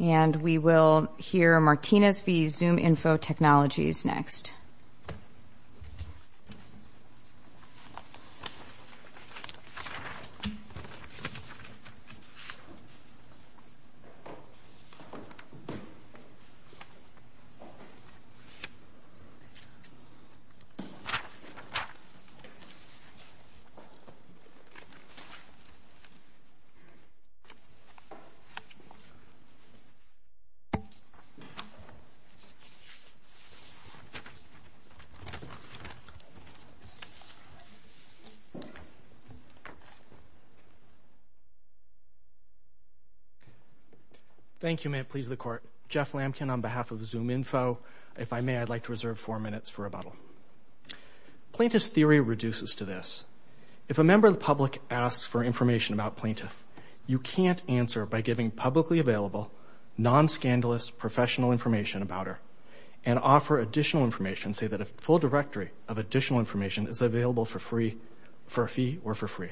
And we will hear Martinez v. ZoomInfo Technologies next. Thank you. May it please the Court. Jeff Lamkin on behalf of ZoomInfo. If I may, I'd like to reserve four minutes for rebuttal. Plaintiff's theory reduces to this. If a member of the public asks for information about a plaintiff, you can't answer by giving publicly available, non-scandalous, professional information about her, and offer additional information, say that a full directory of additional information is available for free, for a fee or for free.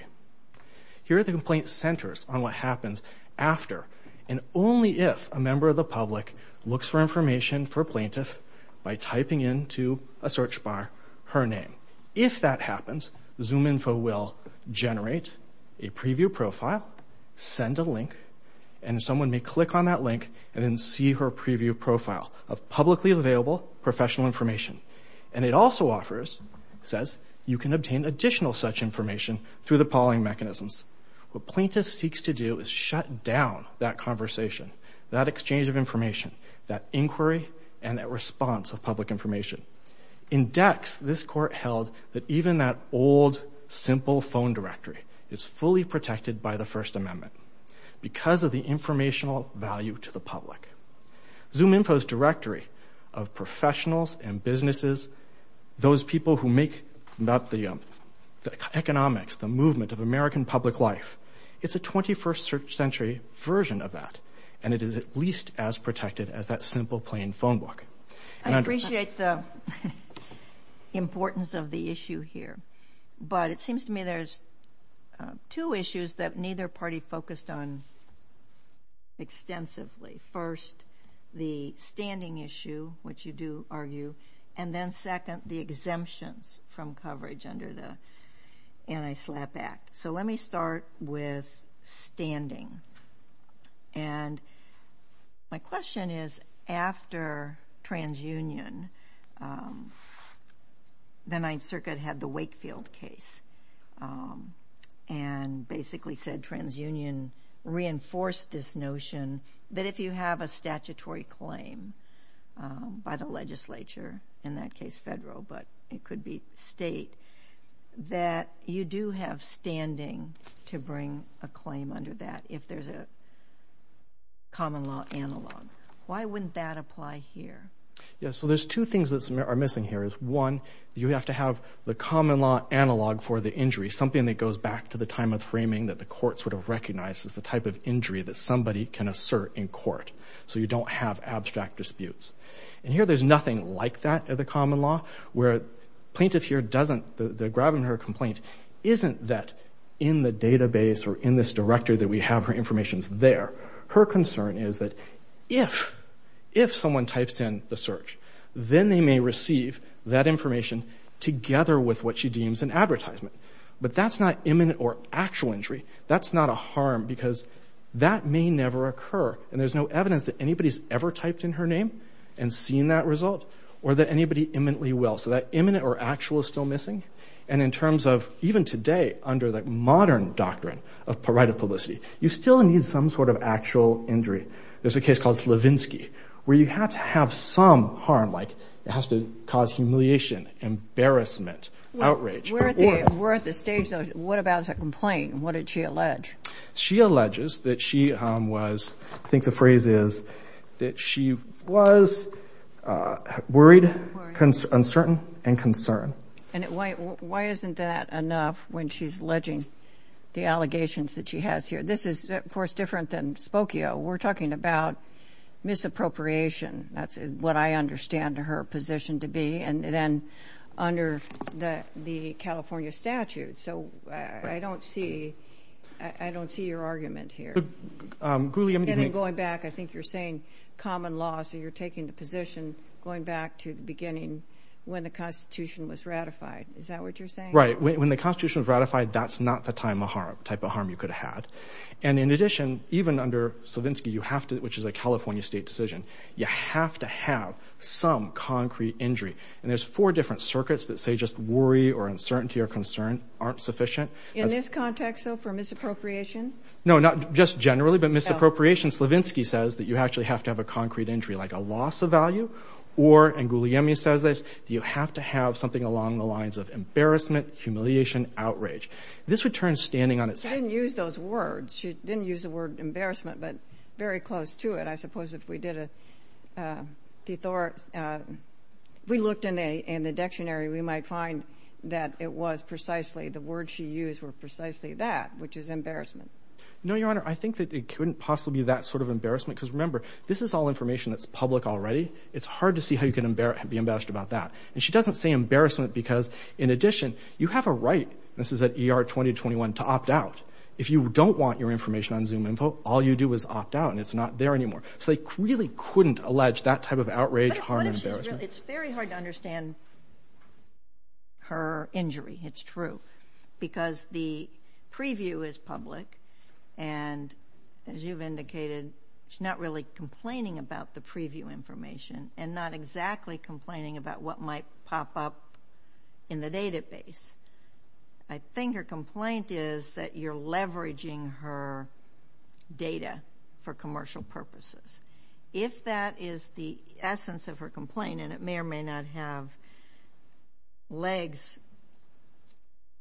Here, the complaint centers on what happens after and only if a member of the public looks for information for a plaintiff by typing into a search bar her name. If that happens, ZoomInfo will generate a preview profile, send a link, and someone may click on that link and then see her preview profile of publicly available professional information. And it also offers, says, you can obtain additional such information through the polling mechanisms. What plaintiff seeks to do is shut down that conversation, that exchange of information, that inquiry, and that response of public information. In Dex, this court held that even that old, simple phone directory is fully protected by the First Amendment because of the informational value to the public. ZoomInfo's directory of professionals and businesses, those people who make up the economics, the movement of American public life, it's a 21st century version of that, and it is at least as protected as that simple, plain phone book. I appreciate the importance of the issue here, but it seems to me there's two issues that neither party focused on extensively. First, the standing issue, which you do argue, and then second, the exemptions from coverage under the Anti-SLAPP Act. So let me start with standing. And my question is, after TransUnion, the Ninth Circuit had the Wakefield case and basically said TransUnion reinforced this notion that if you have a statutory claim by the legislature, in that case federal, but it could be state, that you do have standing to bring a claim under that if there's a common law analog. Why wouldn't that apply here? Yeah, so there's two things that are missing here. One, you have to have the common law analog for the injury, something that goes back to the time of framing that the courts would have recognized as the type of injury that somebody can assert in court, so you don't have abstract disputes. And here there's nothing like that at the common law, where plaintiff here doesn't, they're grabbing her complaint, isn't that in the database or in this directory that we have her information there. Her concern is that if someone types in the search, then they may receive that information together with what she deems an advertisement. But that's not imminent or actual injury. That's not a harm, because that may never occur. And there's no evidence that anybody's ever typed in her name and seen that result, or that anybody imminently will. So that imminent or actual is still missing. And in terms of, even today, under the modern doctrine of right of publicity, you still need some sort of actual injury. There's a case called Slavinsky, where you have to have some harm, like it has to cause humiliation, embarrassment, outrage. We're at the stage, though, what about her complaint and what did she allege? She alleges that she was, I think the phrase is, that she was worried, uncertain, and concerned. And why isn't that enough when she's alleging the allegations that she has here? This is, of course, different than Spokio. We're talking about misappropriation. That's what I understand her position to be. And then under the California statute. So I don't see your argument here. And then going back, I think you're saying common law, so you're taking the position, going back to the beginning when the Constitution was ratified. Is that what you're saying? Right. When the Constitution was ratified, that's not the type of harm you could have had. And in addition, even under Slavinsky, which is a California state decision, you have to have some concrete injury. And there's four different circuits that say just worry or uncertainty or concern aren't sufficient. In this context, though, for misappropriation? No, not just generally, but misappropriation, Slavinsky says that you actually have to have a concrete injury, like a loss of value. Or, and Guglielmi says this, you have to have something along the lines of embarrassment, humiliation, outrage. This would turn standing on its head. She didn't use those words. She didn't use the word embarrassment, but very close to it. I suppose if we did a, we looked in the dictionary, we might find that it was precisely, the words she used were precisely that, which is embarrassment. No, Your Honor, I think that it couldn't possibly be that sort of embarrassment, because remember, this is all information that's public already. It's hard to see how you can be embarrassed about that. And she doesn't say embarrassment because, in addition, you have a right, this is at ER 20-21, to opt out. If you don't want your information on ZoomInfo, all you do is opt out, and it's not there anymore. So they really couldn't allege that type of outrage, harm, and embarrassment. But it's very hard to understand her injury. It's true. Because the preview is public, and as you've indicated, she's not really complaining about the preview information and not exactly complaining about what might pop up in the database. I think her complaint is that you're leveraging her data for commercial purposes. If that is the essence of her complaint, and it may or may not have legs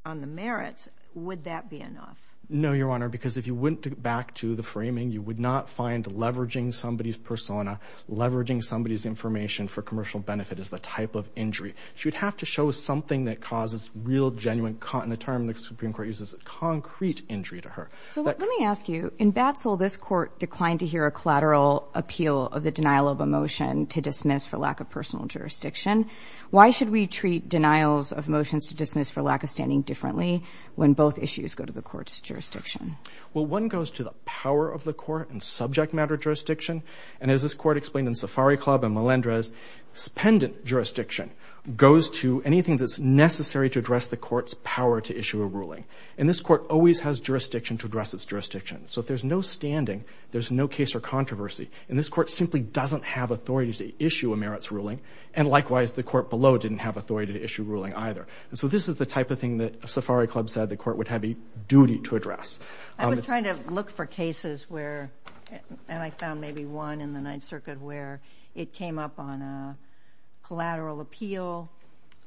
on the merits, would that be enough? No, Your Honor, because if you went back to the framing, you would not find leveraging somebody's persona, leveraging somebody's information for commercial benefit as the type of injury. She would have to show something that causes real, genuine, and the term the Supreme Court uses is concrete injury to her. So let me ask you, in Batzel, this court declined to hear a collateral appeal of the denial of a motion to dismiss for lack of personal jurisdiction. Why should we treat denials of motions to dismiss for lack of standing differently when both issues go to the court's jurisdiction? Well, one goes to the power of the court and subject matter jurisdiction. And as this court explained in Safari Club and Melendrez, pendant jurisdiction goes to anything that's necessary to address the court's power to issue a ruling. And this court always has jurisdiction to address its jurisdiction. So if there's no standing, there's no case or controversy. And this court simply doesn't have authority to issue a merits ruling, and likewise the court below didn't have authority to issue a ruling either. And so this is the type of thing that Safari Club said the court would have a duty to address. I was trying to look for cases where, and I found maybe one in the Ninth Circuit, where it came up on a collateral appeal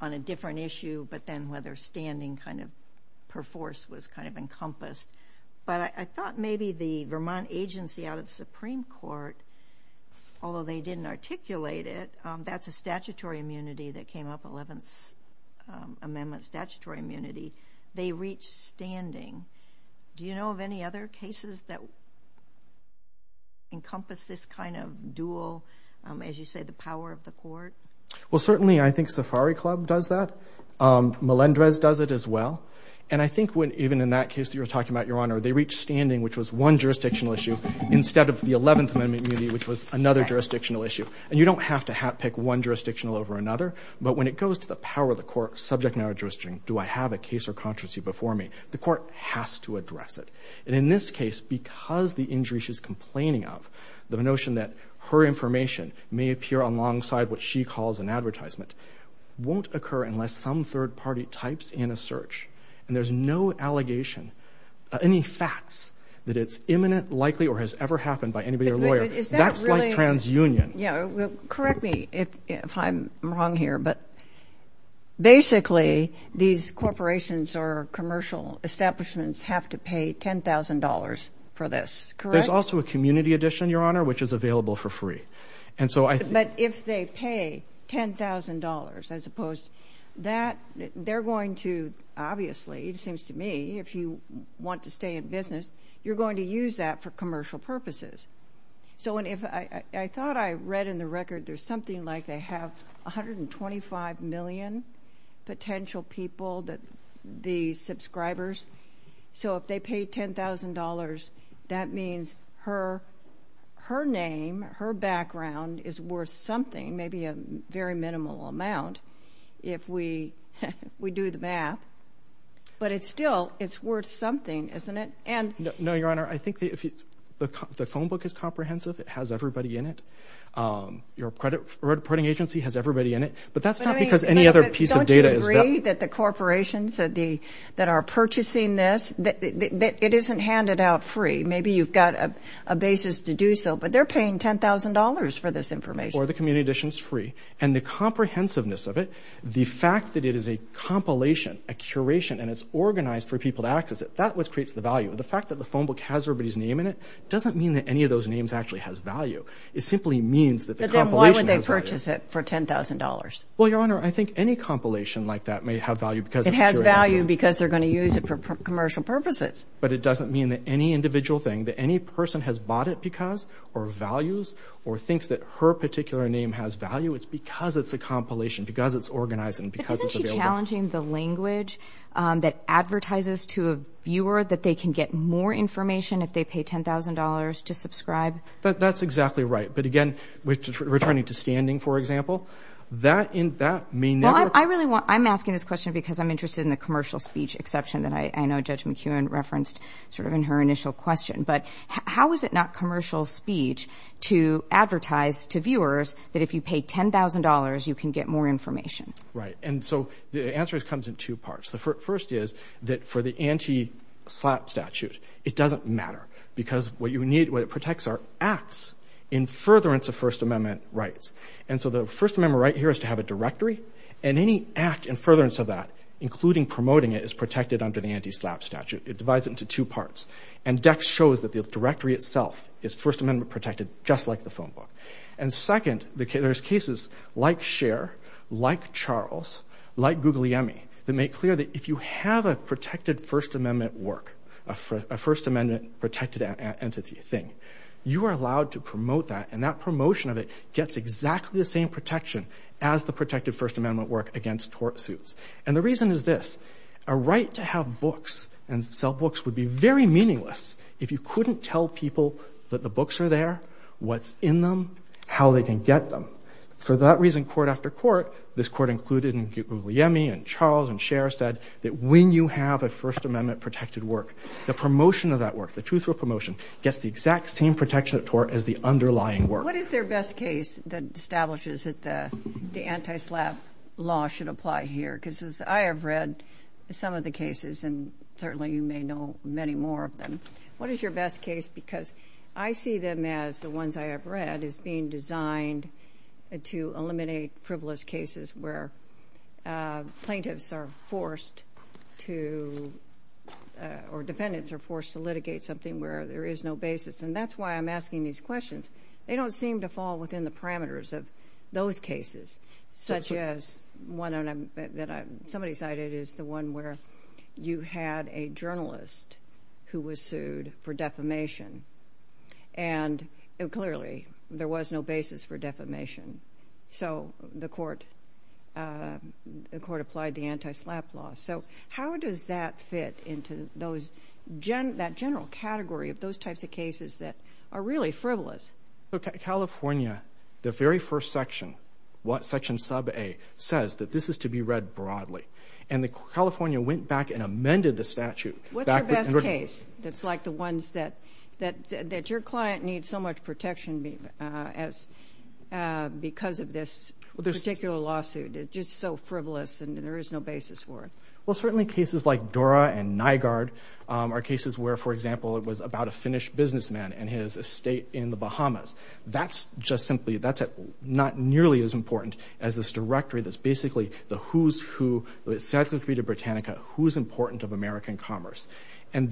on a different issue, but then whether standing kind of per force was kind of encompassed. But I thought maybe the Vermont agency out of the Supreme Court, although they didn't articulate it, that's a statutory immunity that came up, Eleventh Amendment statutory immunity. They reach standing. Do you know of any other cases that encompass this kind of dual, as you say, the power of the court? Well, certainly I think Safari Club does that. Melendrez does it as well. And I think even in that case that you were talking about, Your Honor, they reach standing, which was one jurisdictional issue, instead of the Eleventh Amendment immunity, which was another jurisdictional issue. And you don't have to hat-pick one jurisdictional over another, but when it goes to the power of the court, subject matter jurisdiction, do I have a case or constancy before me? The court has to address it. And in this case, because the injury she's complaining of, the notion that her information may appear alongside what she calls an advertisement, won't occur unless some third party types in a search, and there's no allegation, any facts that it's imminent, likely, or has ever happened by anybody or lawyer. That's like transunion. Yeah. Correct me if I'm wrong here, but basically these corporations or commercial establishments have to pay $10,000 for this. Correct? There's also a community edition, Your Honor, which is available for free. But if they pay $10,000, as opposed to that, they're going to, obviously, it seems to me, if you want to stay in business, you're going to use that for commercial purposes. So I thought I read in the record there's something like they have 125 million potential people, the subscribers, so if they pay $10,000, that means her name, her background, is worth something, maybe a very minimal amount, if we do the math. But still, it's worth something, isn't it? No, Your Honor, I think the phone book is comprehensive. It has everybody in it. Your reporting agency has everybody in it. But that's not because any other piece of data is. Don't you agree that the corporations that are purchasing this, it isn't handed out free? Maybe you've got a basis to do so, but they're paying $10,000 for this information. Or the community edition is free. And the comprehensiveness of it, the fact that it is a compilation, a curation, and it's organized for people to access it, that's what creates the value. The fact that the phone book has everybody's name in it doesn't mean that any of those names actually has value. It simply means that the compilation has value. But then why would they purchase it for $10,000? Well, Your Honor, I think any compilation like that may have value because it's curated. It has value because they're going to use it for commercial purposes. But it doesn't mean that any individual thing, that any person has bought it because or values or thinks that her particular name has value, it's because it's a compilation, because it's organized and because it's available. Are you challenging the language that advertises to a viewer that they can get more information if they pay $10,000 to subscribe? That's exactly right. But, again, returning to standing, for example, that may never – Well, I'm asking this question because I'm interested in the commercial speech exception that I know Judge McKeown referenced sort of in her initial question. But how is it not commercial speech to advertise to viewers that if you pay $10,000, you can get more information? Right. And so the answer comes in two parts. The first is that for the anti-SLAPP statute, it doesn't matter, because what it protects are acts in furtherance of First Amendment rights. And so the First Amendment right here is to have a directory, and any act in furtherance of that, including promoting it, is protected under the anti-SLAPP statute. It divides it into two parts. And Dex shows that the directory itself is First Amendment protected, just like the phone book. And, second, there's cases like Scheer, like Charles, like Guglielmi, that make clear that if you have a protected First Amendment work, a First Amendment protected entity thing, you are allowed to promote that, and that promotion of it gets exactly the same protection as the protected First Amendment work against tort suits. And the reason is this. A right to have books and sell books would be very meaningless if you couldn't tell people that the books are there, what's in them, how they can get them. For that reason, court after court, this court included in Guglielmi and Charles and Scheer, said that when you have a First Amendment protected work, the promotion of that work, the truth of promotion, gets the exact same protection of tort as the underlying work. What is their best case that establishes that the anti-SLAPP law should apply here? Because as I have read some of the cases, and certainly you may know many more of them, what is your best case? Because I see them as the ones I have read as being designed to eliminate frivolous cases where plaintiffs are forced to, or defendants are forced to, litigate something where there is no basis. And that's why I'm asking these questions. They don't seem to fall within the parameters of those cases, such as one that somebody cited is the one where you had a journalist who was sued for defamation, and clearly there was no basis for defamation. So the court applied the anti-SLAPP law. So how does that fit into that general category of those types of cases that are really frivolous? California, the very first section, Section Sub A, says that this is to be read broadly. And California went back and amended the statute. What's your best case that's like the ones that your client needs so much protection because of this particular lawsuit? It's just so frivolous, and there is no basis for it. Well, certainly cases like Dora and Nygaard are cases where, for example, it was about a Finnish businessman and his estate in the Bahamas. That's just simply not nearly as important as this directory that's basically the who's who, the statutory to Britannica, who's important of American commerce. And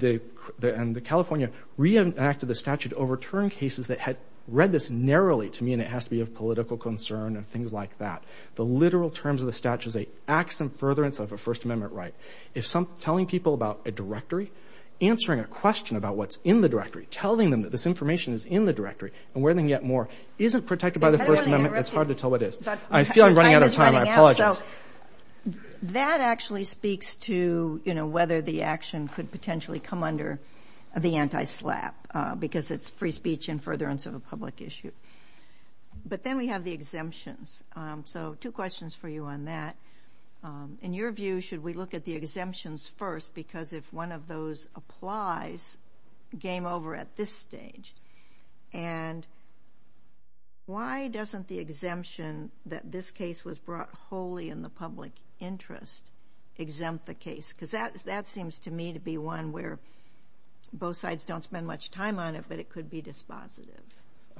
California re-enacted the statute to overturn cases that had read this narrowly to me, and it has to be of political concern and things like that. The literal terms of the statute say acts in furtherance of a First Amendment right. If telling people about a directory, answering a question about what's in the directory, telling them that this information is in the directory and where they can get more, isn't protected by the First Amendment, it's hard to tell what is. I feel I'm running out of time. I apologize. That actually speaks to whether the action could potentially come under the anti-SLAPP because it's free speech in furtherance of a public issue. But then we have the exemptions. So two questions for you on that. In your view, should we look at the exemptions first? Because if one of those applies, game over at this stage. And why doesn't the exemption that this case was brought wholly in the public interest exempt the case? Because that seems to me to be one where both sides don't spend much time on it, but it could be dispositive.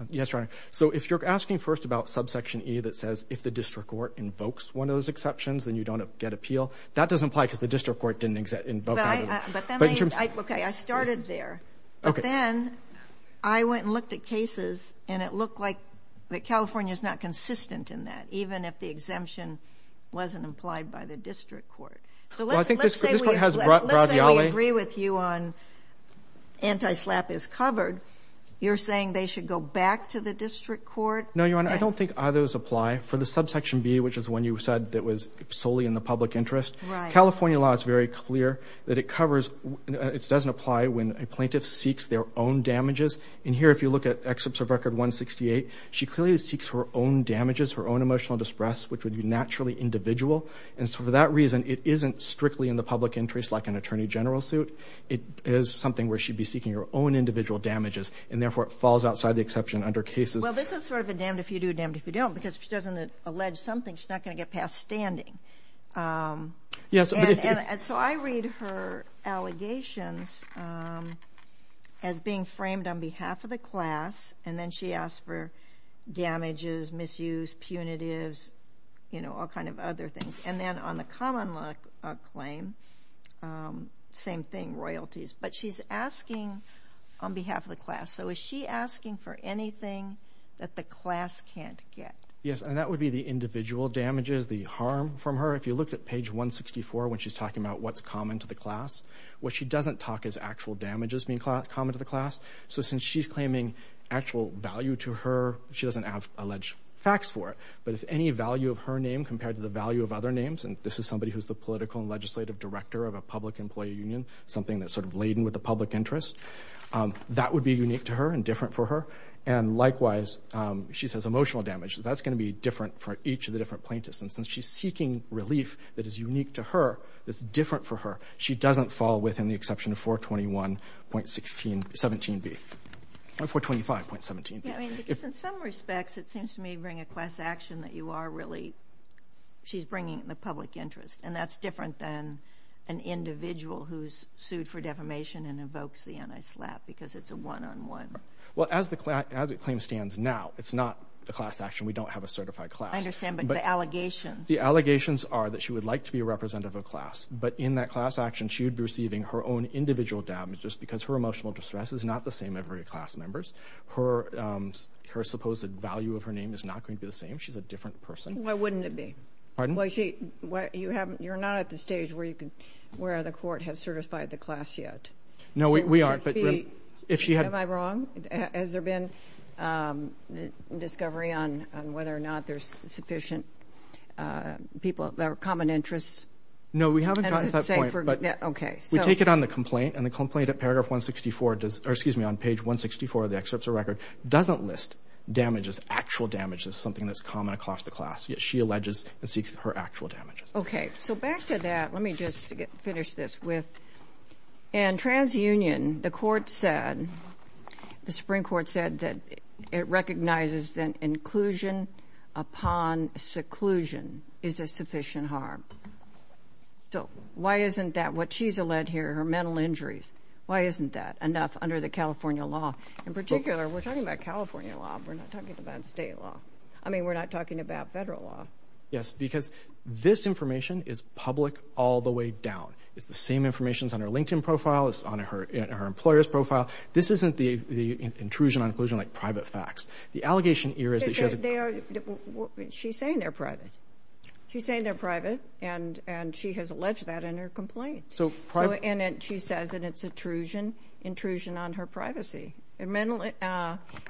Yes, Your Honor. So if you're asking first about subsection E that says, if the district court invokes one of those exceptions, then you don't get appeal, that doesn't apply because the district court didn't invoke either. Okay, I started there. But then I went and looked at cases and it looked like California is not consistent in that, even if the exemption wasn't implied by the district court. So let's say we agree with you on anti-SLAPP is covered. You're saying they should go back to the district court? No, Your Honor, I don't think either of those apply. For the subsection B, which is one you said that was solely in the public interest, California law is very clear that it covers, it doesn't apply when a plaintiff seeks their own damages. And here, if you look at Excerpts of Record 168, she clearly seeks her own damages, her own emotional distress, which would be naturally individual. And so for that reason, it isn't strictly in the public interest like an attorney general suit. It is something where she'd be seeking her own individual damages, and therefore it falls outside the exception under cases. Well, this is sort of a damned if you do, damned if you don't, because if she doesn't allege something, she's not going to get past standing. And so I read her allegations as being framed on behalf of the class, and then she asks for damages, misuse, punitives, you know, all kind of other things. And then on the common law claim, same thing, royalties. But she's asking on behalf of the class. So is she asking for anything that the class can't get? Yes, and that would be the individual damages, the harm from her. If you look at page 164 when she's talking about what's common to the class, what she doesn't talk is actual damages being common to the class. So since she's claiming actual value to her, she doesn't have alleged facts for it. But if any value of her name compared to the value of other names, and this is somebody who's the political and legislative director of a public employee union, something that's sort of laden with the public interest, that would be unique to her and different for her. And likewise, she says emotional damage. That's going to be different for each of the different plaintiffs. And since she's seeking relief that is unique to her, that's different for her, she doesn't fall within the exception of 421.17b, 425.17b. Yeah, I mean, because in some respects it seems to me to bring a class action that you are really, she's bringing the public interest, and that's different than an individual who's sued for defamation and invokes the anti-SLAPP because it's a one-on-one. Well, as the claim stands now, it's not a class action. We don't have a certified class. I understand, but the allegations. The allegations are that she would like to be a representative of a class, but in that class action she would be receiving her own individual damages because her emotional distress is not the same of every class member's. Her supposed value of her name is not going to be the same. She's a different person. Why wouldn't it be? Pardon? Well, you're not at the stage where the court has certified the class yet. No, we aren't. Am I wrong? Has there been discovery on whether or not there's sufficient people, there are common interests? No, we haven't gotten to that point. Okay. We take it on the complaint, and the complaint at paragraph 164, or excuse me, on page 164 of the excerpt of the record, doesn't list damages, actual damages, something that's common across the class. Yet she alleges and seeks her actual damages. Okay. So back to that, let me just finish this with, in TransUnion, the Supreme Court said that it recognizes that inclusion upon seclusion is a sufficient harm. So why isn't that what she's alleged here, her mental injuries, why isn't that enough under the California law? In particular, we're talking about California law. We're not talking about state law. I mean, we're not talking about federal law. Yes, because this information is public all the way down. It's the same information that's on her LinkedIn profile, it's on her employer's profile. This isn't the intrusion on inclusion like private facts. The allegation here is that she has a- She's saying they're private. She's saying they're private, and she has alleged that in her complaint. So private- And she says that it's intrusion on her privacy, and mental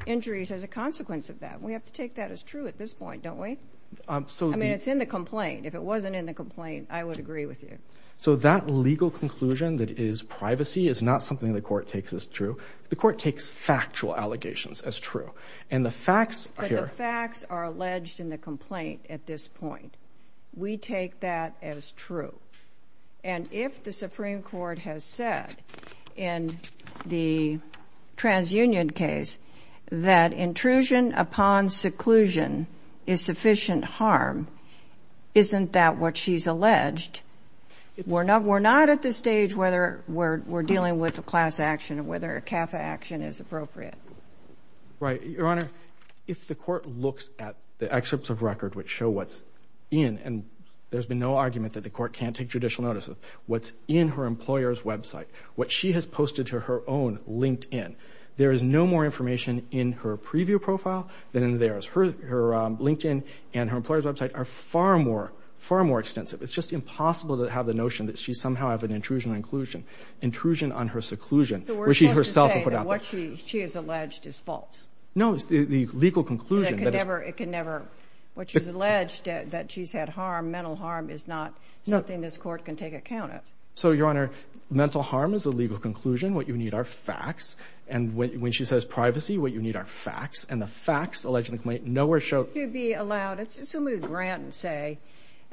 injuries as a consequence of that. We have to take that as true at this point, don't we? I mean, it's in the complaint. If it wasn't in the complaint, I would agree with you. So that legal conclusion that it is privacy is not something the court takes as true. The court takes factual allegations as true. And the facts here- But the facts are alleged in the complaint at this point. We take that as true. And if the Supreme Court has said in the TransUnion case that intrusion upon seclusion is sufficient harm, isn't that what she's alleged? We're not at the stage whether we're dealing with a class action or whether a CAFA action is appropriate. Right. Your Honor, if the court looks at the excerpts of record which show what's in, and there's been no argument that the court can't take judicial notice of, what's in her employer's website, what she has posted to her own LinkedIn, there is no more information in her preview profile than in theirs. Her LinkedIn and her employer's website are far more, far more extensive. It's just impossible to have the notion that she somehow has an intrusion on inclusion, intrusion on her seclusion, where she herself- So we're supposed to say that what she has alleged is false? No. The legal conclusion that it's- It can never- What she's alleged, that she's had harm, mental harm, is not something this court can take account of. So, Your Honor, mental harm is a legal conclusion. What you need are facts. And when she says privacy, what you need are facts. And the facts, allegedly, nowhere show- Should she be allowed- Let's assume we grant and say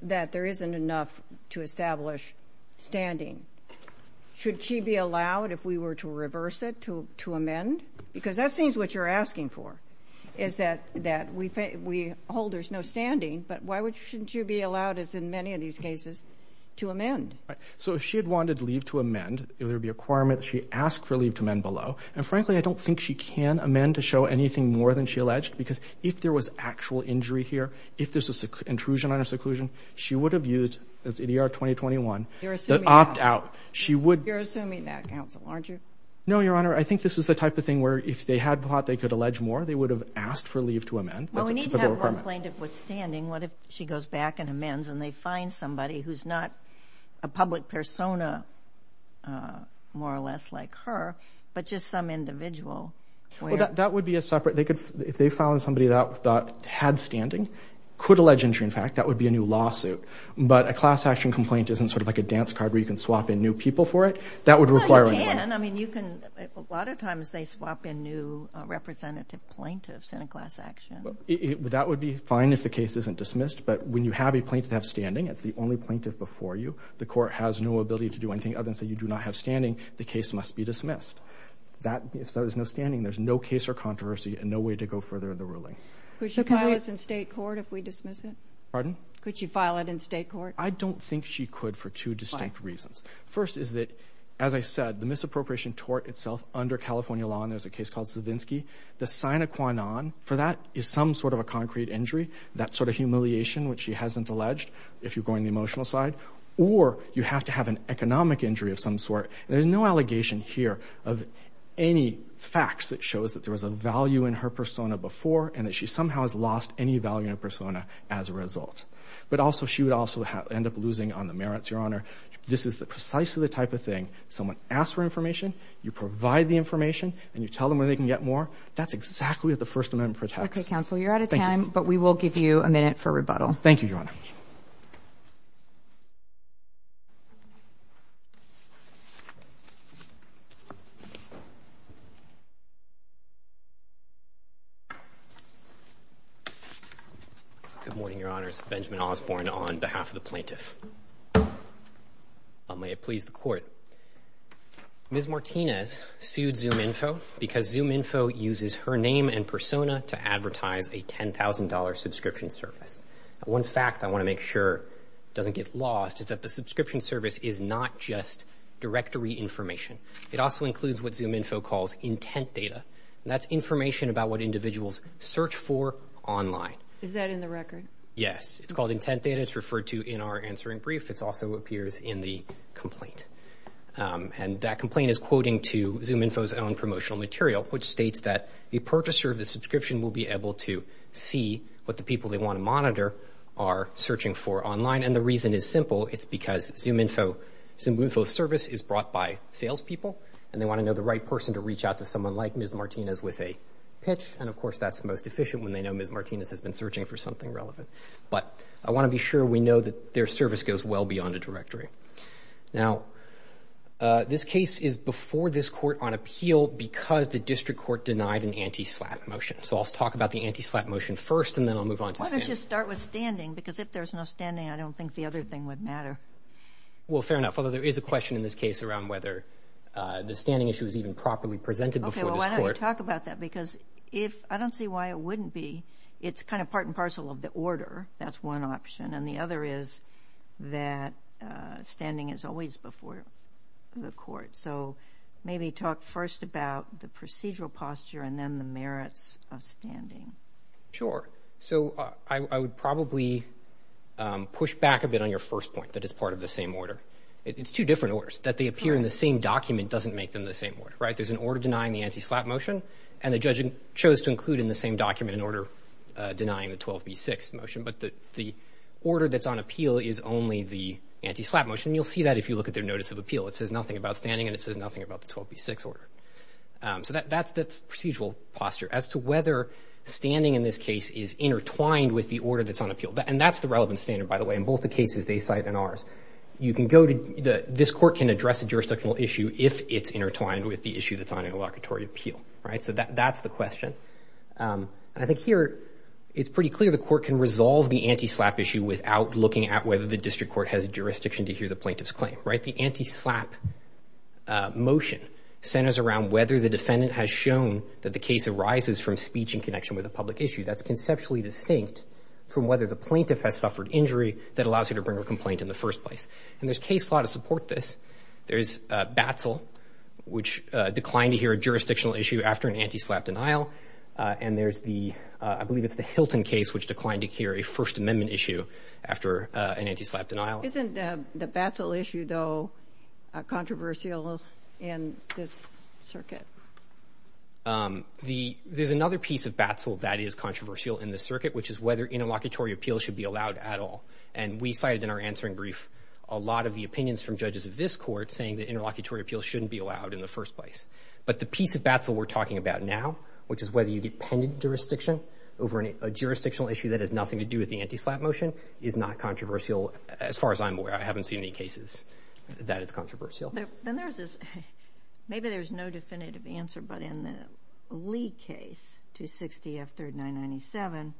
that there isn't enough to establish standing. Should she be allowed, if we were to reverse it, to amend? Because that seems what you're asking for, is that we hold there's no standing. But why shouldn't she be allowed, as in many of these cases, to amend? Right. So if she had wanted leave to amend, there would be a requirement that she ask for leave to amend below. And, frankly, I don't think she can amend to show anything more than she alleged, because if there was actual injury here, if there's an intrusion on her seclusion, she would have used, that's EDR 2021- You're assuming- That opt out. She would- You're assuming that, counsel, aren't you? No, Your Honor. I think this is the type of thing where if they had thought they could allege more, they would have asked for leave to amend. That's a typical requirement. Well, we need to have one plaintiff withstanding. What if she goes back and amends, and they find somebody who's not a public persona, more or less like her, but just some individual where- Well, that would be a separate- If they found somebody that had standing, could allege injury, in fact, that would be a new lawsuit. But a class action complaint isn't sort of like a dance card where you can swap in new people for it. That would require- No, you can. I mean, you can- A lot of times they swap in new representative plaintiffs in a class action. That would be fine if the case isn't dismissed. But when you have a plaintiff that has standing, it's the only plaintiff before you, the court has no ability to do anything other than say you do not have standing, the case must be dismissed. If there's no standing, there's no case or controversy and no way to go further in the ruling. Could she file this in state court if we dismiss it? Pardon? Could she file it in state court? I don't think she could for two distinct reasons. First is that, as I said, the misappropriation tort itself under California law, and there's a case called Savinsky. The sign of Kwanon for that is some sort of a concrete injury, that sort of humiliation which she hasn't alleged, if you're going the emotional side, or you have to have an economic injury of some sort. There's no allegation here of any facts that shows that there was a value in her persona before and that she somehow has lost any value in her persona as a result. But also she would also end up losing on the merits, Your Honor. This is precisely the type of thing. Someone asks for information, you provide the information, and you tell them where they can get more. That's exactly what the First Amendment protects. Okay, counsel. You're out of time, but we will give you a minute for rebuttal. Thank you, Your Honor. Good morning, Your Honors. Benjamin Osborne on behalf of the plaintiff. May it please the Court. Ms. Martinez sued ZoomInfo because ZoomInfo uses her name and persona to advertise a $10,000 subscription service. One fact I want to make sure doesn't get lost is that the subscription service is not just directory information. It also includes what ZoomInfo calls intent data, and that's information about what individuals search for online. Is that in the record? Yes. It's called intent data. It's referred to in our answering brief. It also appears in the complaint. And that complaint is quoting to ZoomInfo's own promotional material, which states that a purchaser of the subscription will be able to see what the people they want to monitor are searching for online. And the reason is simple. It's because ZoomInfo's service is brought by salespeople, and they want to know the right person to reach out to someone like Ms. Martinez with a pitch. And, of course, that's the most efficient when they know Ms. Martinez has been searching for something relevant. But I want to be sure we know that their service goes well beyond a directory. Now, this case is before this court on appeal because the district court denied an anti-slap motion. So I'll talk about the anti-slap motion first, and then I'll move on to standing. Why don't you start with standing? Because if there's no standing, I don't think the other thing would matter. Well, fair enough, although there is a question in this case around whether the standing issue is even properly presented before this court. Okay, well, I don't want to talk about that, because I don't see why it wouldn't be. It's kind of part and parcel of the order. That's one option. And the other is that standing is always before the court. So maybe talk first about the procedural posture and then the merits of standing. Sure. So I would probably push back a bit on your first point, that it's part of the same order. It's two different orders. That they appear in the same document doesn't make them the same order. Right? There's an order denying the anti-slap motion, and the judge chose to include in the same document an order denying the 12B6 motion. But the order that's on appeal is only the anti-slap motion. And you'll see that if you look at their notice of appeal. It says nothing about standing, and it says nothing about the 12B6 order. So that's procedural posture. As to whether standing in this case is intertwined with the order that's on appeal, and that's the relevant standard, by the way, in both the cases they cite and ours. You can go to the — this court can address a jurisdictional issue if it's intertwined with the issue that's on interlocutory appeal. Right? So that's the question. And I think here it's pretty clear the court can resolve the anti-slap issue without looking at whether the district court has jurisdiction to hear the plaintiff's claim. Right? The anti-slap motion centers around whether the defendant has shown that the case arises from speech in connection with a public issue. That's conceptually distinct from whether the plaintiff has suffered injury that allows her to bring a complaint in the first place. And there's case law to support this. There's BATSL, which declined to hear a jurisdictional issue after an anti-slap denial. And there's the — I believe it's the Hilton case, which declined to hear a First Amendment issue after an anti-slap denial. Isn't the BATSL issue, though, controversial in this circuit? There's another piece of BATSL that is controversial in this circuit, which is whether interlocutory appeal should be allowed at all. And we cited in our answering brief a lot of the opinions from judges of this court saying that interlocutory appeal shouldn't be allowed in the first place. But the piece of BATSL we're talking about now, which is whether you get pending jurisdiction over a jurisdictional issue that has nothing to do with the anti-slap motion, is not controversial as far as I'm aware. I haven't seen any cases that it's controversial. Then there's this — maybe there's no definitive answer, but in the Lee case, 260F3997,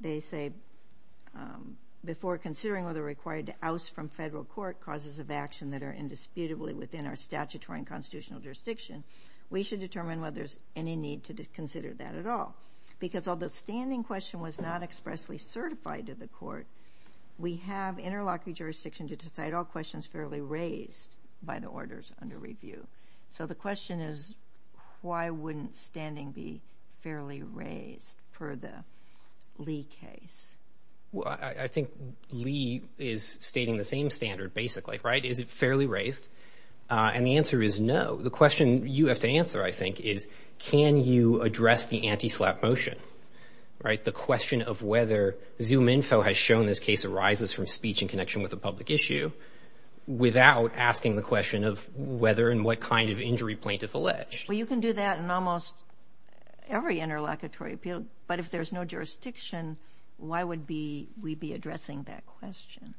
they say, before considering whether we're required to oust from federal court causes of action that are indisputably within our statutory and constitutional jurisdiction, we should determine whether there's any need to consider that at all. Because although the standing question was not expressly certified to the court, we have interlocutory jurisdiction to decide all questions fairly raised by the orders under review. So the question is, why wouldn't standing be fairly raised for the Lee case? Well, I think Lee is stating the same standard, basically, right? Is it fairly raised? And the answer is no. The question you have to answer, I think, is can you address the anti-slap motion, right? The question of whether Zoom info has shown this case arises from speech in connection with a public issue without asking the question of whether and what kind of injury plaintiff alleged. Well, you can do that in almost every interlocutory appeal, but if there's no jurisdiction, why would we be addressing that question?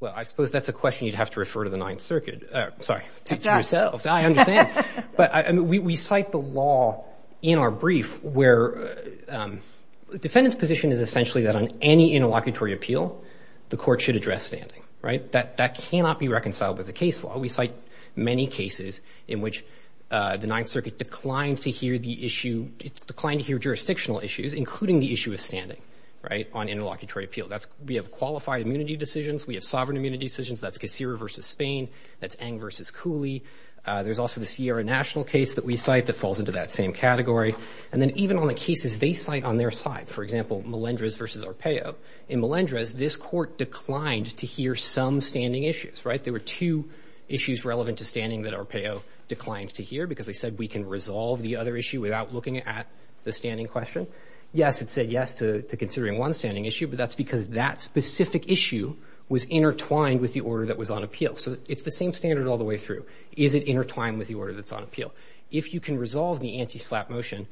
Well, I suppose that's a question you'd have to refer to the Ninth Circuit. Sorry, to yourselves. I understand. But we cite the law in our brief where the defendant's position is essentially that on any interlocutory appeal, the court should address standing, right? That cannot be reconciled with the case law. We cite many cases in which the Ninth Circuit declined to hear the issue, declined to hear jurisdictional issues, including the issue of standing, right, on interlocutory appeal. We have qualified immunity decisions. We have sovereign immunity decisions. That's Cacera versus Spain. That's Ng versus Cooley. There's also the Sierra National case that we cite that falls into that same category. And then even on the cases they cite on their side, for example, Melendrez versus Arpaio, in Melendrez, this court declined to hear some standing issues, right? There were two issues relevant to standing that Arpaio declined to hear because they said, we can resolve the other issue without looking at the standing question. Yes, it said yes to considering one standing issue, but that's because that specific issue was intertwined with the order that was on appeal. So it's the same standard all the way through. Is it intertwined with the order that's on appeal? If you can resolve the anti-SLAPP motion,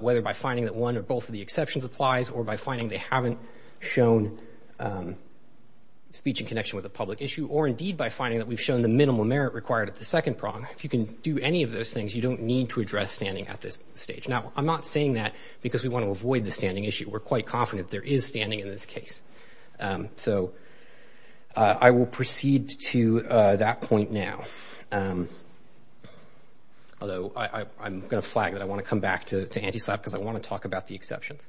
whether by finding that one or both of the exceptions applies, or by finding they haven't shown speech in connection with a public issue, or indeed by finding that we've shown the minimal merit required at the second prong, if you can do any of those things, you don't need to address standing at this stage. Now, I'm not saying that because we want to avoid the standing issue. We're quite confident there is standing in this case. So I will proceed to that point now. Although I'm going to flag that I want to come back to anti-SLAPP because I want to talk about the exceptions.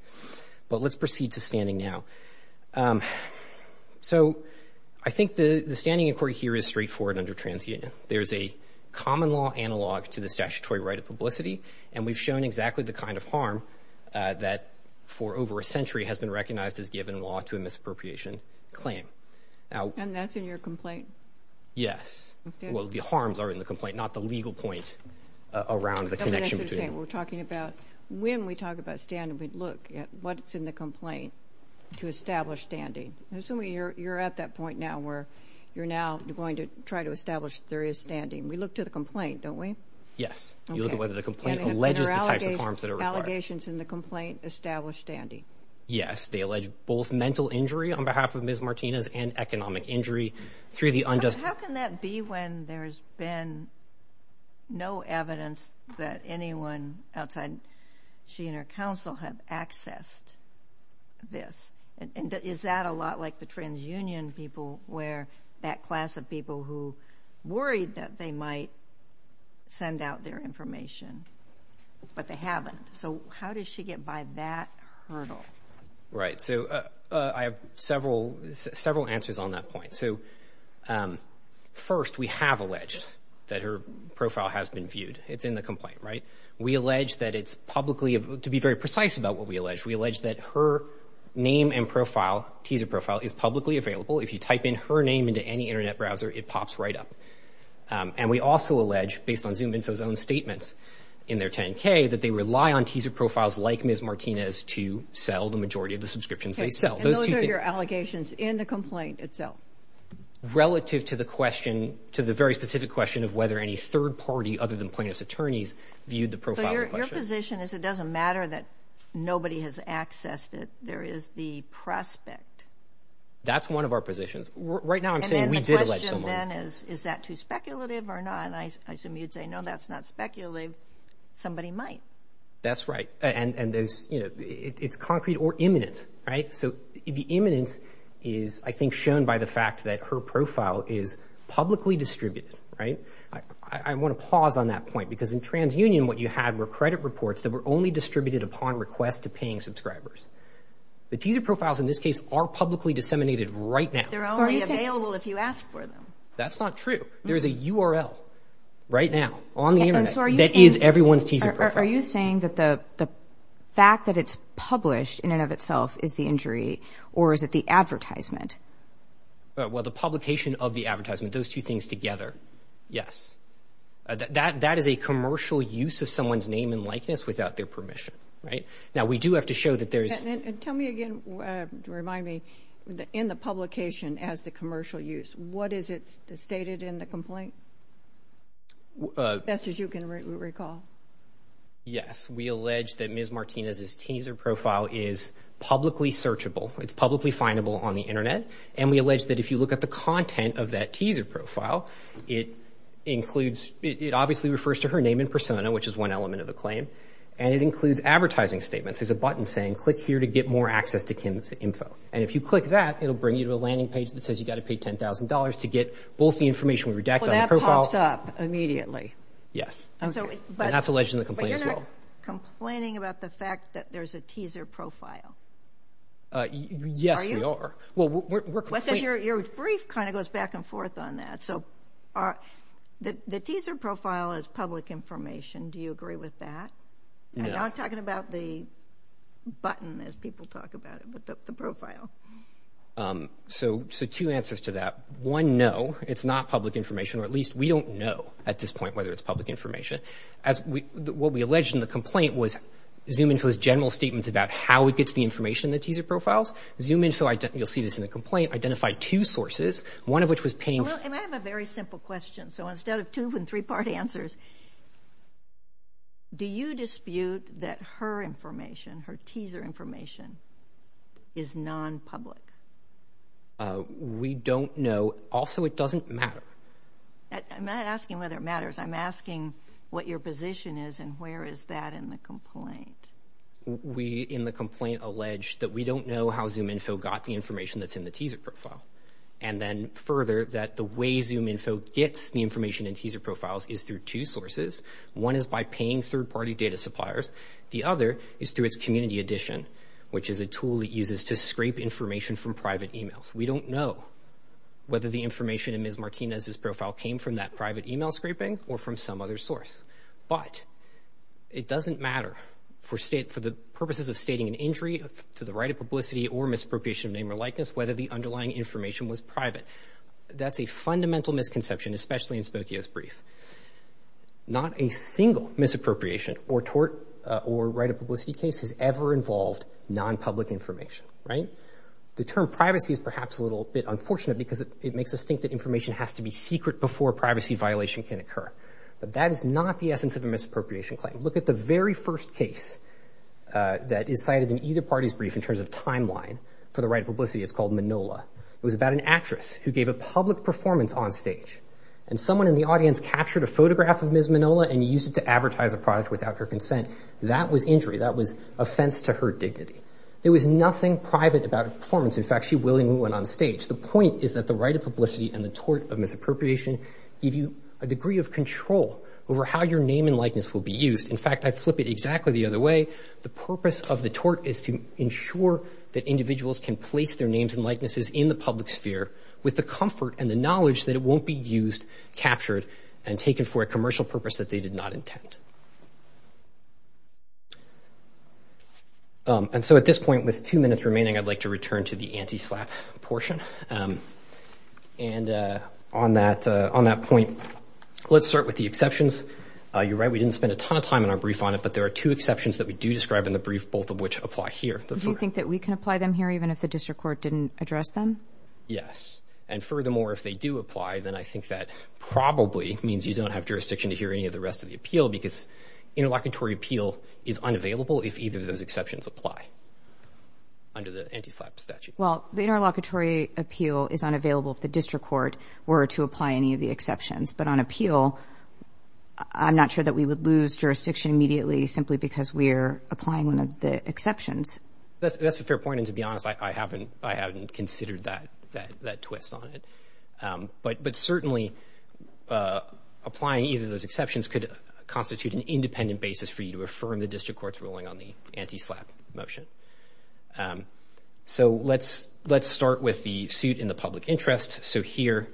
But let's proceed to standing now. So I think the standing inquiry here is straightforward under TransUnion. There's a common law analog to the statutory right of publicity, and we've shown exactly the kind of harm that for over a century has been recognized as given law to a misappropriation claim. And that's in your complaint? Yes. Well, the harms are in the complaint, not the legal point around the connection. That's what I'm saying. We're talking about when we talk about standing, we look at what's in the complaint to establish standing. Assuming you're at that point now where you're now going to try to establish there is standing. We look to the complaint, don't we? Yes. You look at whether the complaint alleges the types of harms that are required. Allegations in the complaint establish standing. Yes. They allege both mental injury on behalf of Ms. Martinez and economic injury through the unjust cause. How can that be when there's been no evidence that anyone outside she and her counsel have accessed this? Is that a lot like the transunion people where that class of people who worried that they might send out their information, but they haven't? So how does she get by that hurdle? Right. So I have several answers on that point. So first, we have alleged that her profile has been viewed. It's in the complaint, right? We allege that it's publicly, to be very precise about what we allege, we allege that her name and profile, teaser profile, is publicly available. If you type in her name into any Internet browser, it pops right up. And we also allege, based on Zoom Info's own statements in their 10-K, that they rely on teaser profiles like Ms. Martinez to sell the majority of the subscriptions they sell. Okay. And those are your allegations in the complaint itself? Relative to the question, to the very specific question of whether any third party other than plaintiff's attorneys viewed the profile in question. So your position is it doesn't matter that nobody has accessed it. There is the prospect. That's one of our positions. Right now I'm saying we did allege someone. And then the question then is, is that too speculative or not? And I assume you'd say, no, that's not speculative. Somebody might. That's right. And it's concrete or imminent, right? So the imminence is, I think, shown by the fact that her profile is publicly distributed, right? I want to pause on that point because in TransUnion what you had were credit reports that were only distributed upon request to paying subscribers. The teaser profiles in this case are publicly disseminated right now. They're only available if you ask for them. That's not true. There's a URL right now on the Internet that is everyone's teaser profile. Are you saying that the fact that it's published in and of itself is the injury or is it the advertisement? Well, the publication of the advertisement, those two things together. Yes. That is a commercial use of someone's name and likeness without their permission. Now, we do have to show that there's – And tell me again, remind me, in the publication as the commercial use, what is it stated in the complaint? Best as you can recall. Yes. We allege that Ms. Martinez's teaser profile is publicly searchable. It's publicly findable on the Internet. And we allege that if you look at the content of that teaser profile, it includes – it obviously refers to her name and persona, which is one element of the claim, and it includes advertising statements. There's a button saying, click here to get more access to Kim's info. And if you click that, it will bring you to a landing page that says you've got to pay $10,000 to get both the information we redacted on the profile. Well, that pops up immediately. Yes. And that's alleged in the complaint as well. But you're not complaining about the fact that there's a teaser profile, are you? Yes, we are. Well, we're complaining. Your brief kind of goes back and forth on that. So the teaser profile is public information. Do you agree with that? No. I'm talking about the button as people talk about it, but the profile. So two answers to that. One, no, it's not public information, or at least we don't know at this point whether it's public information. What we allege in the complaint was ZoomInfo's general statements about how it gets the information in the teaser profiles. ZoomInfo, you'll see this in the complaint, identified two sources, one of which was paying... And I have a very simple question. So instead of two and three-part answers, do you dispute that her information, her teaser information, is nonpublic? We don't know. Also, it doesn't matter. I'm not asking whether it matters. I'm asking what your position is and where is that in the complaint. We in the complaint allege that we don't know how ZoomInfo got the information that's in the teaser profile. And then further, that the way ZoomInfo gets the information in teaser profiles is through two sources. One is by paying third-party data suppliers. The other is through its Community Edition, which is a tool it uses to scrape information from private emails. We don't know whether the information in Ms. Martinez's profile came from that private email scraping or from some other source. But it doesn't matter for the purposes of stating an injury to the right of publicity or misappropriation of name or likeness whether the underlying information was private. That's a fundamental misconception, especially in Spokio's brief. Not a single misappropriation or right of publicity case has ever involved nonpublic information, right? The term privacy is perhaps a little bit unfortunate because it makes us think that information has to be secret before a privacy violation can occur. But that is not the essence of a misappropriation claim. Look at the very first case that is cited in either party's brief in terms of timeline for the right of publicity. It's called Manola. It was about an actress who gave a public performance on stage. And someone in the audience captured a photograph of Ms. Manola and used it to advertise a product without her consent. That was injury. That was offense to her dignity. There was nothing private about her performance. In fact, she willingly went on stage. The point is that the right of publicity and the tort of misappropriation give you a degree of control over how your name and likeness will be used. In fact, I flip it exactly the other way. The purpose of the tort is to ensure that individuals can place their names and likenesses in the public sphere with the comfort and the knowledge that it won't be used, captured, and taken for a commercial purpose that they did not intend. And so at this point, with two minutes remaining, I'd like to return to the anti-SLAPP portion. And on that point, let's start with the exceptions. You're right, we didn't spend a ton of time in our brief on it, but there are two exceptions that we do describe in the brief, both of which apply here. Do you think that we can apply them here even if the district court didn't address them? Yes. And furthermore, if they do apply, then I think that probably means you don't have jurisdiction to hear any of the rest of the appeal because interlocutory appeal is unavailable if either of those exceptions apply under the anti-SLAPP statute. Well, the interlocutory appeal is unavailable if the district court were to apply any of the exceptions. But on appeal, I'm not sure that we would lose jurisdiction immediately simply because we're applying one of the exceptions. That's a fair point, and to be honest, I haven't considered that twist on it. But certainly, applying either of those exceptions could constitute an independent basis for you to affirm the district court's ruling on the anti-SLAPP motion. So let's start with the suit in the public interest. So here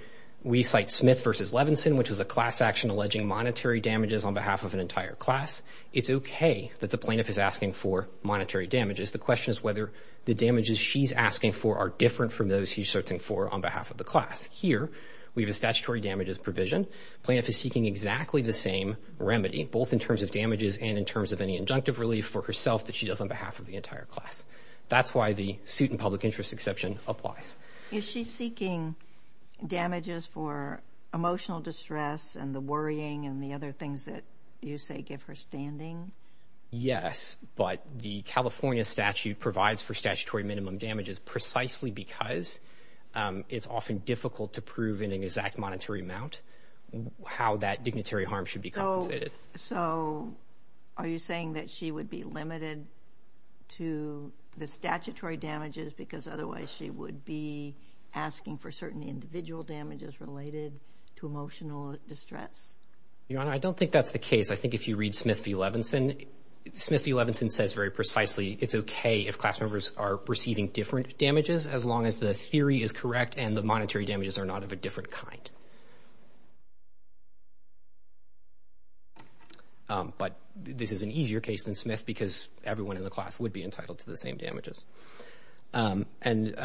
we cite Smith v. Levinson, which was a class action alleging monetary damages on behalf of an entire class. It's okay that the plaintiff is asking for monetary damages. The question is whether the damages she's asking for are different from those she's searching for on behalf of the class. Here, we have a statutory damages provision. Plaintiff is seeking exactly the same remedy, both in terms of damages and in terms of any injunctive relief for herself that she does on behalf of the entire class. That's why the suit in public interest exception applies. Is she seeking damages for emotional distress and the worrying and the other things that you say give her standing? Yes, but the California statute provides for statutory minimum damages precisely because it's often difficult to prove in an exact monetary amount how that dignitary harm should be compensated. So are you saying that she would be limited to the statutory damages because otherwise she would be asking for certain individual damages related to emotional distress? Your Honor, I don't think that's the case. I think if you read Smith v. Levinson, Smith v. Levinson says very precisely it's okay if class members are receiving different damages as long as the theory is correct and the monetary damages are not of a different kind. But this is an easier case than Smith because everyone in the class would be entitled to the same damages. And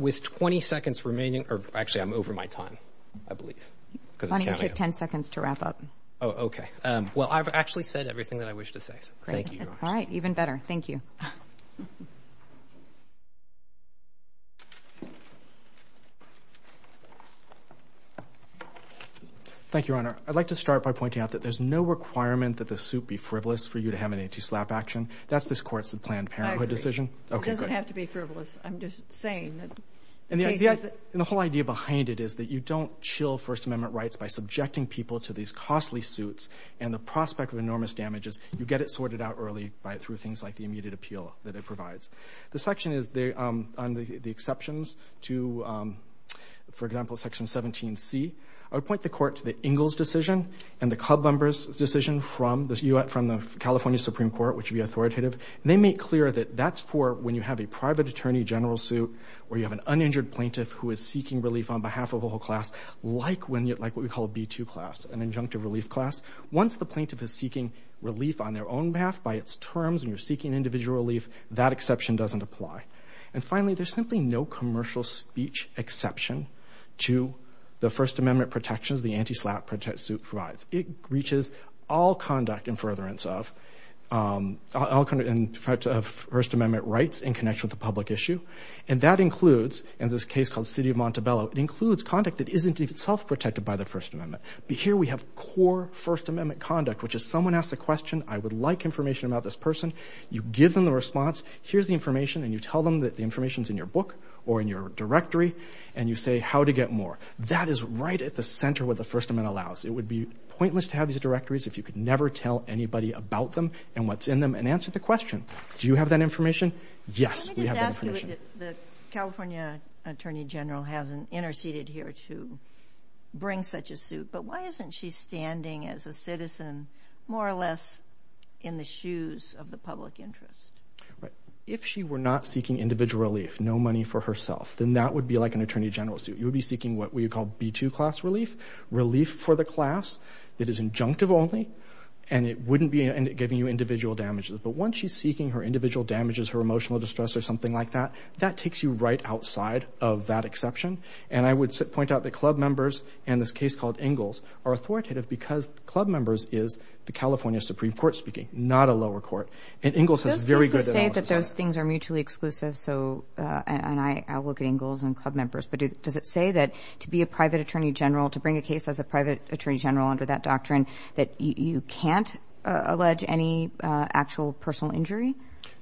with 20 seconds remaining, or actually I'm over my time, I believe. You took 10 seconds to wrap up. Oh, okay. Well, I've actually said everything that I wish to say. Thank you. All right, even better. Thank you. Thank you, Your Honor. I'd like to start by pointing out that there's no requirement that the suit be frivolous for you to have an anti-SLAPP action. That's this court's planned parenthood decision. It doesn't have to be frivolous. I'm just saying. And the whole idea behind it is that you don't chill First Amendment rights by subjecting people to these costly suits and the prospect of enormous damages. You get it sorted out early through things like the immediate appeal that it provides. The section is on the exceptions to, for example, Section 17C. I would point the court to the Ingalls decision and the club members' decision from the California Supreme Court, which would be authoritative. And they make clear that that's for when you have a private attorney general suit where you have an uninjured plaintiff who is seeking relief on behalf of a whole class, like what we call a B-2 class, an injunctive relief class. Once the plaintiff is seeking relief on their own behalf by its terms and you're seeking individual relief, that exception doesn't apply. And finally, there's simply no commercial speech exception to the First Amendment protections the anti-SLAPP suit provides. It reaches all conduct in furtherance of First Amendment rights in connection with the public issue. And that includes, in this case called City of Montebello, it includes conduct that isn't in itself protected by the First Amendment. But here we have core First Amendment conduct, which is someone asks a question, I would like information about this person. You give them the response. Here's the information. And you tell them that the information is in your book or in your directory. And you say how to get more. That is right at the center of what the First Amendment allows. It would be pointless to have these directories if you could never tell anybody about them and what's in them and answer the question. Do you have that information? Yes, we have that information. Let me just ask you, the California attorney general hasn't interceded here to bring such a suit, but why isn't she standing as a citizen more or less in the shoes of the public interest? Right. If she were not seeking individual relief, no money for herself, then that would be like an attorney general suit. You would be seeking what we would call B-2 class relief, relief for the class that is injunctive only, and it wouldn't be giving you individual damages. But once she's seeking her individual damages, her emotional distress or something like that, that takes you right outside of that exception. And I would point out that club members and this case called Ingalls are authoritative because club members is the California Supreme Court speaking, not a lower court. And Ingalls has very good analysis of that. And I look at Ingalls and club members. But does it say that to be a private attorney general, to bring a case as a private attorney general under that doctrine, that you can't allege any actual personal injury?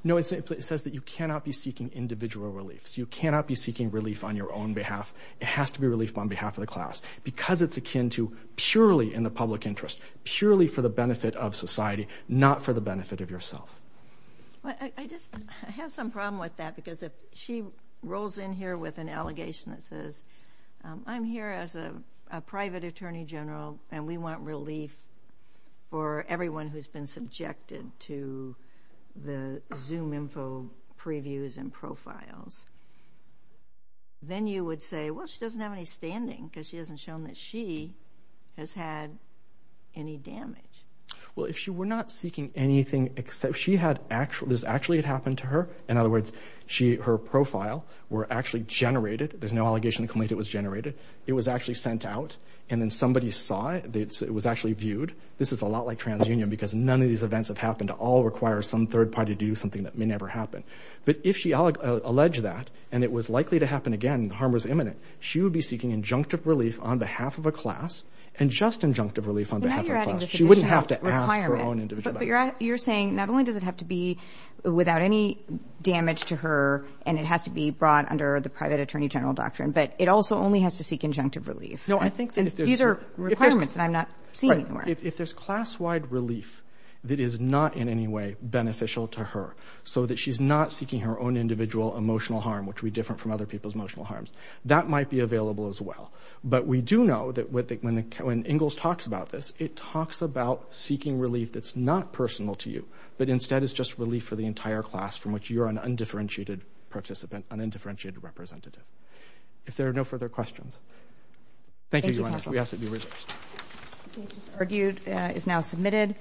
No, it says that you cannot be seeking individual relief. You cannot be seeking relief on your own behalf. It has to be relief on behalf of the class because it's akin to purely in the public interest, purely for the benefit of society, not for the benefit of yourself. I just have some problem with that because if she rolls in here with an allegation that says, I'm here as a private attorney general, and we want relief for everyone who's been subjected to the Zoom info previews and profiles, then you would say, well, she doesn't have any standing because she hasn't shown that she has had any damage. Well, if she were not seeking anything except she had actually, this actually had happened to her, in other words, her profile were actually generated. There's no allegation that it was generated. It was actually sent out, and then somebody saw it. It was actually viewed. This is a lot like TransUnion because none of these events have happened to all require some third party to do something that may never happen. But if she alleged that, and it was likely to happen again, harm was imminent, she would be seeking injunctive relief on behalf of a class and just injunctive relief on behalf of a class. She wouldn't have to ask her own individual. But you're saying not only does it have to be without any damage to her, and it has to be brought under the private attorney general doctrine, but it also only has to seek injunctive relief. These are requirements that I'm not seeing anymore. If there's class-wide relief that is not in any way beneficial to her so that she's not seeking her own individual emotional harm, which would be different from other people's emotional harms, that might be available as well. But we do know that when Ingalls talks about this, it talks about seeking relief that's not personal to you, but instead is just relief for the entire class from which you're an undifferentiated participant, an undifferentiated representative. If there are no further questions. Thank you, Your Honor. We ask that you be released.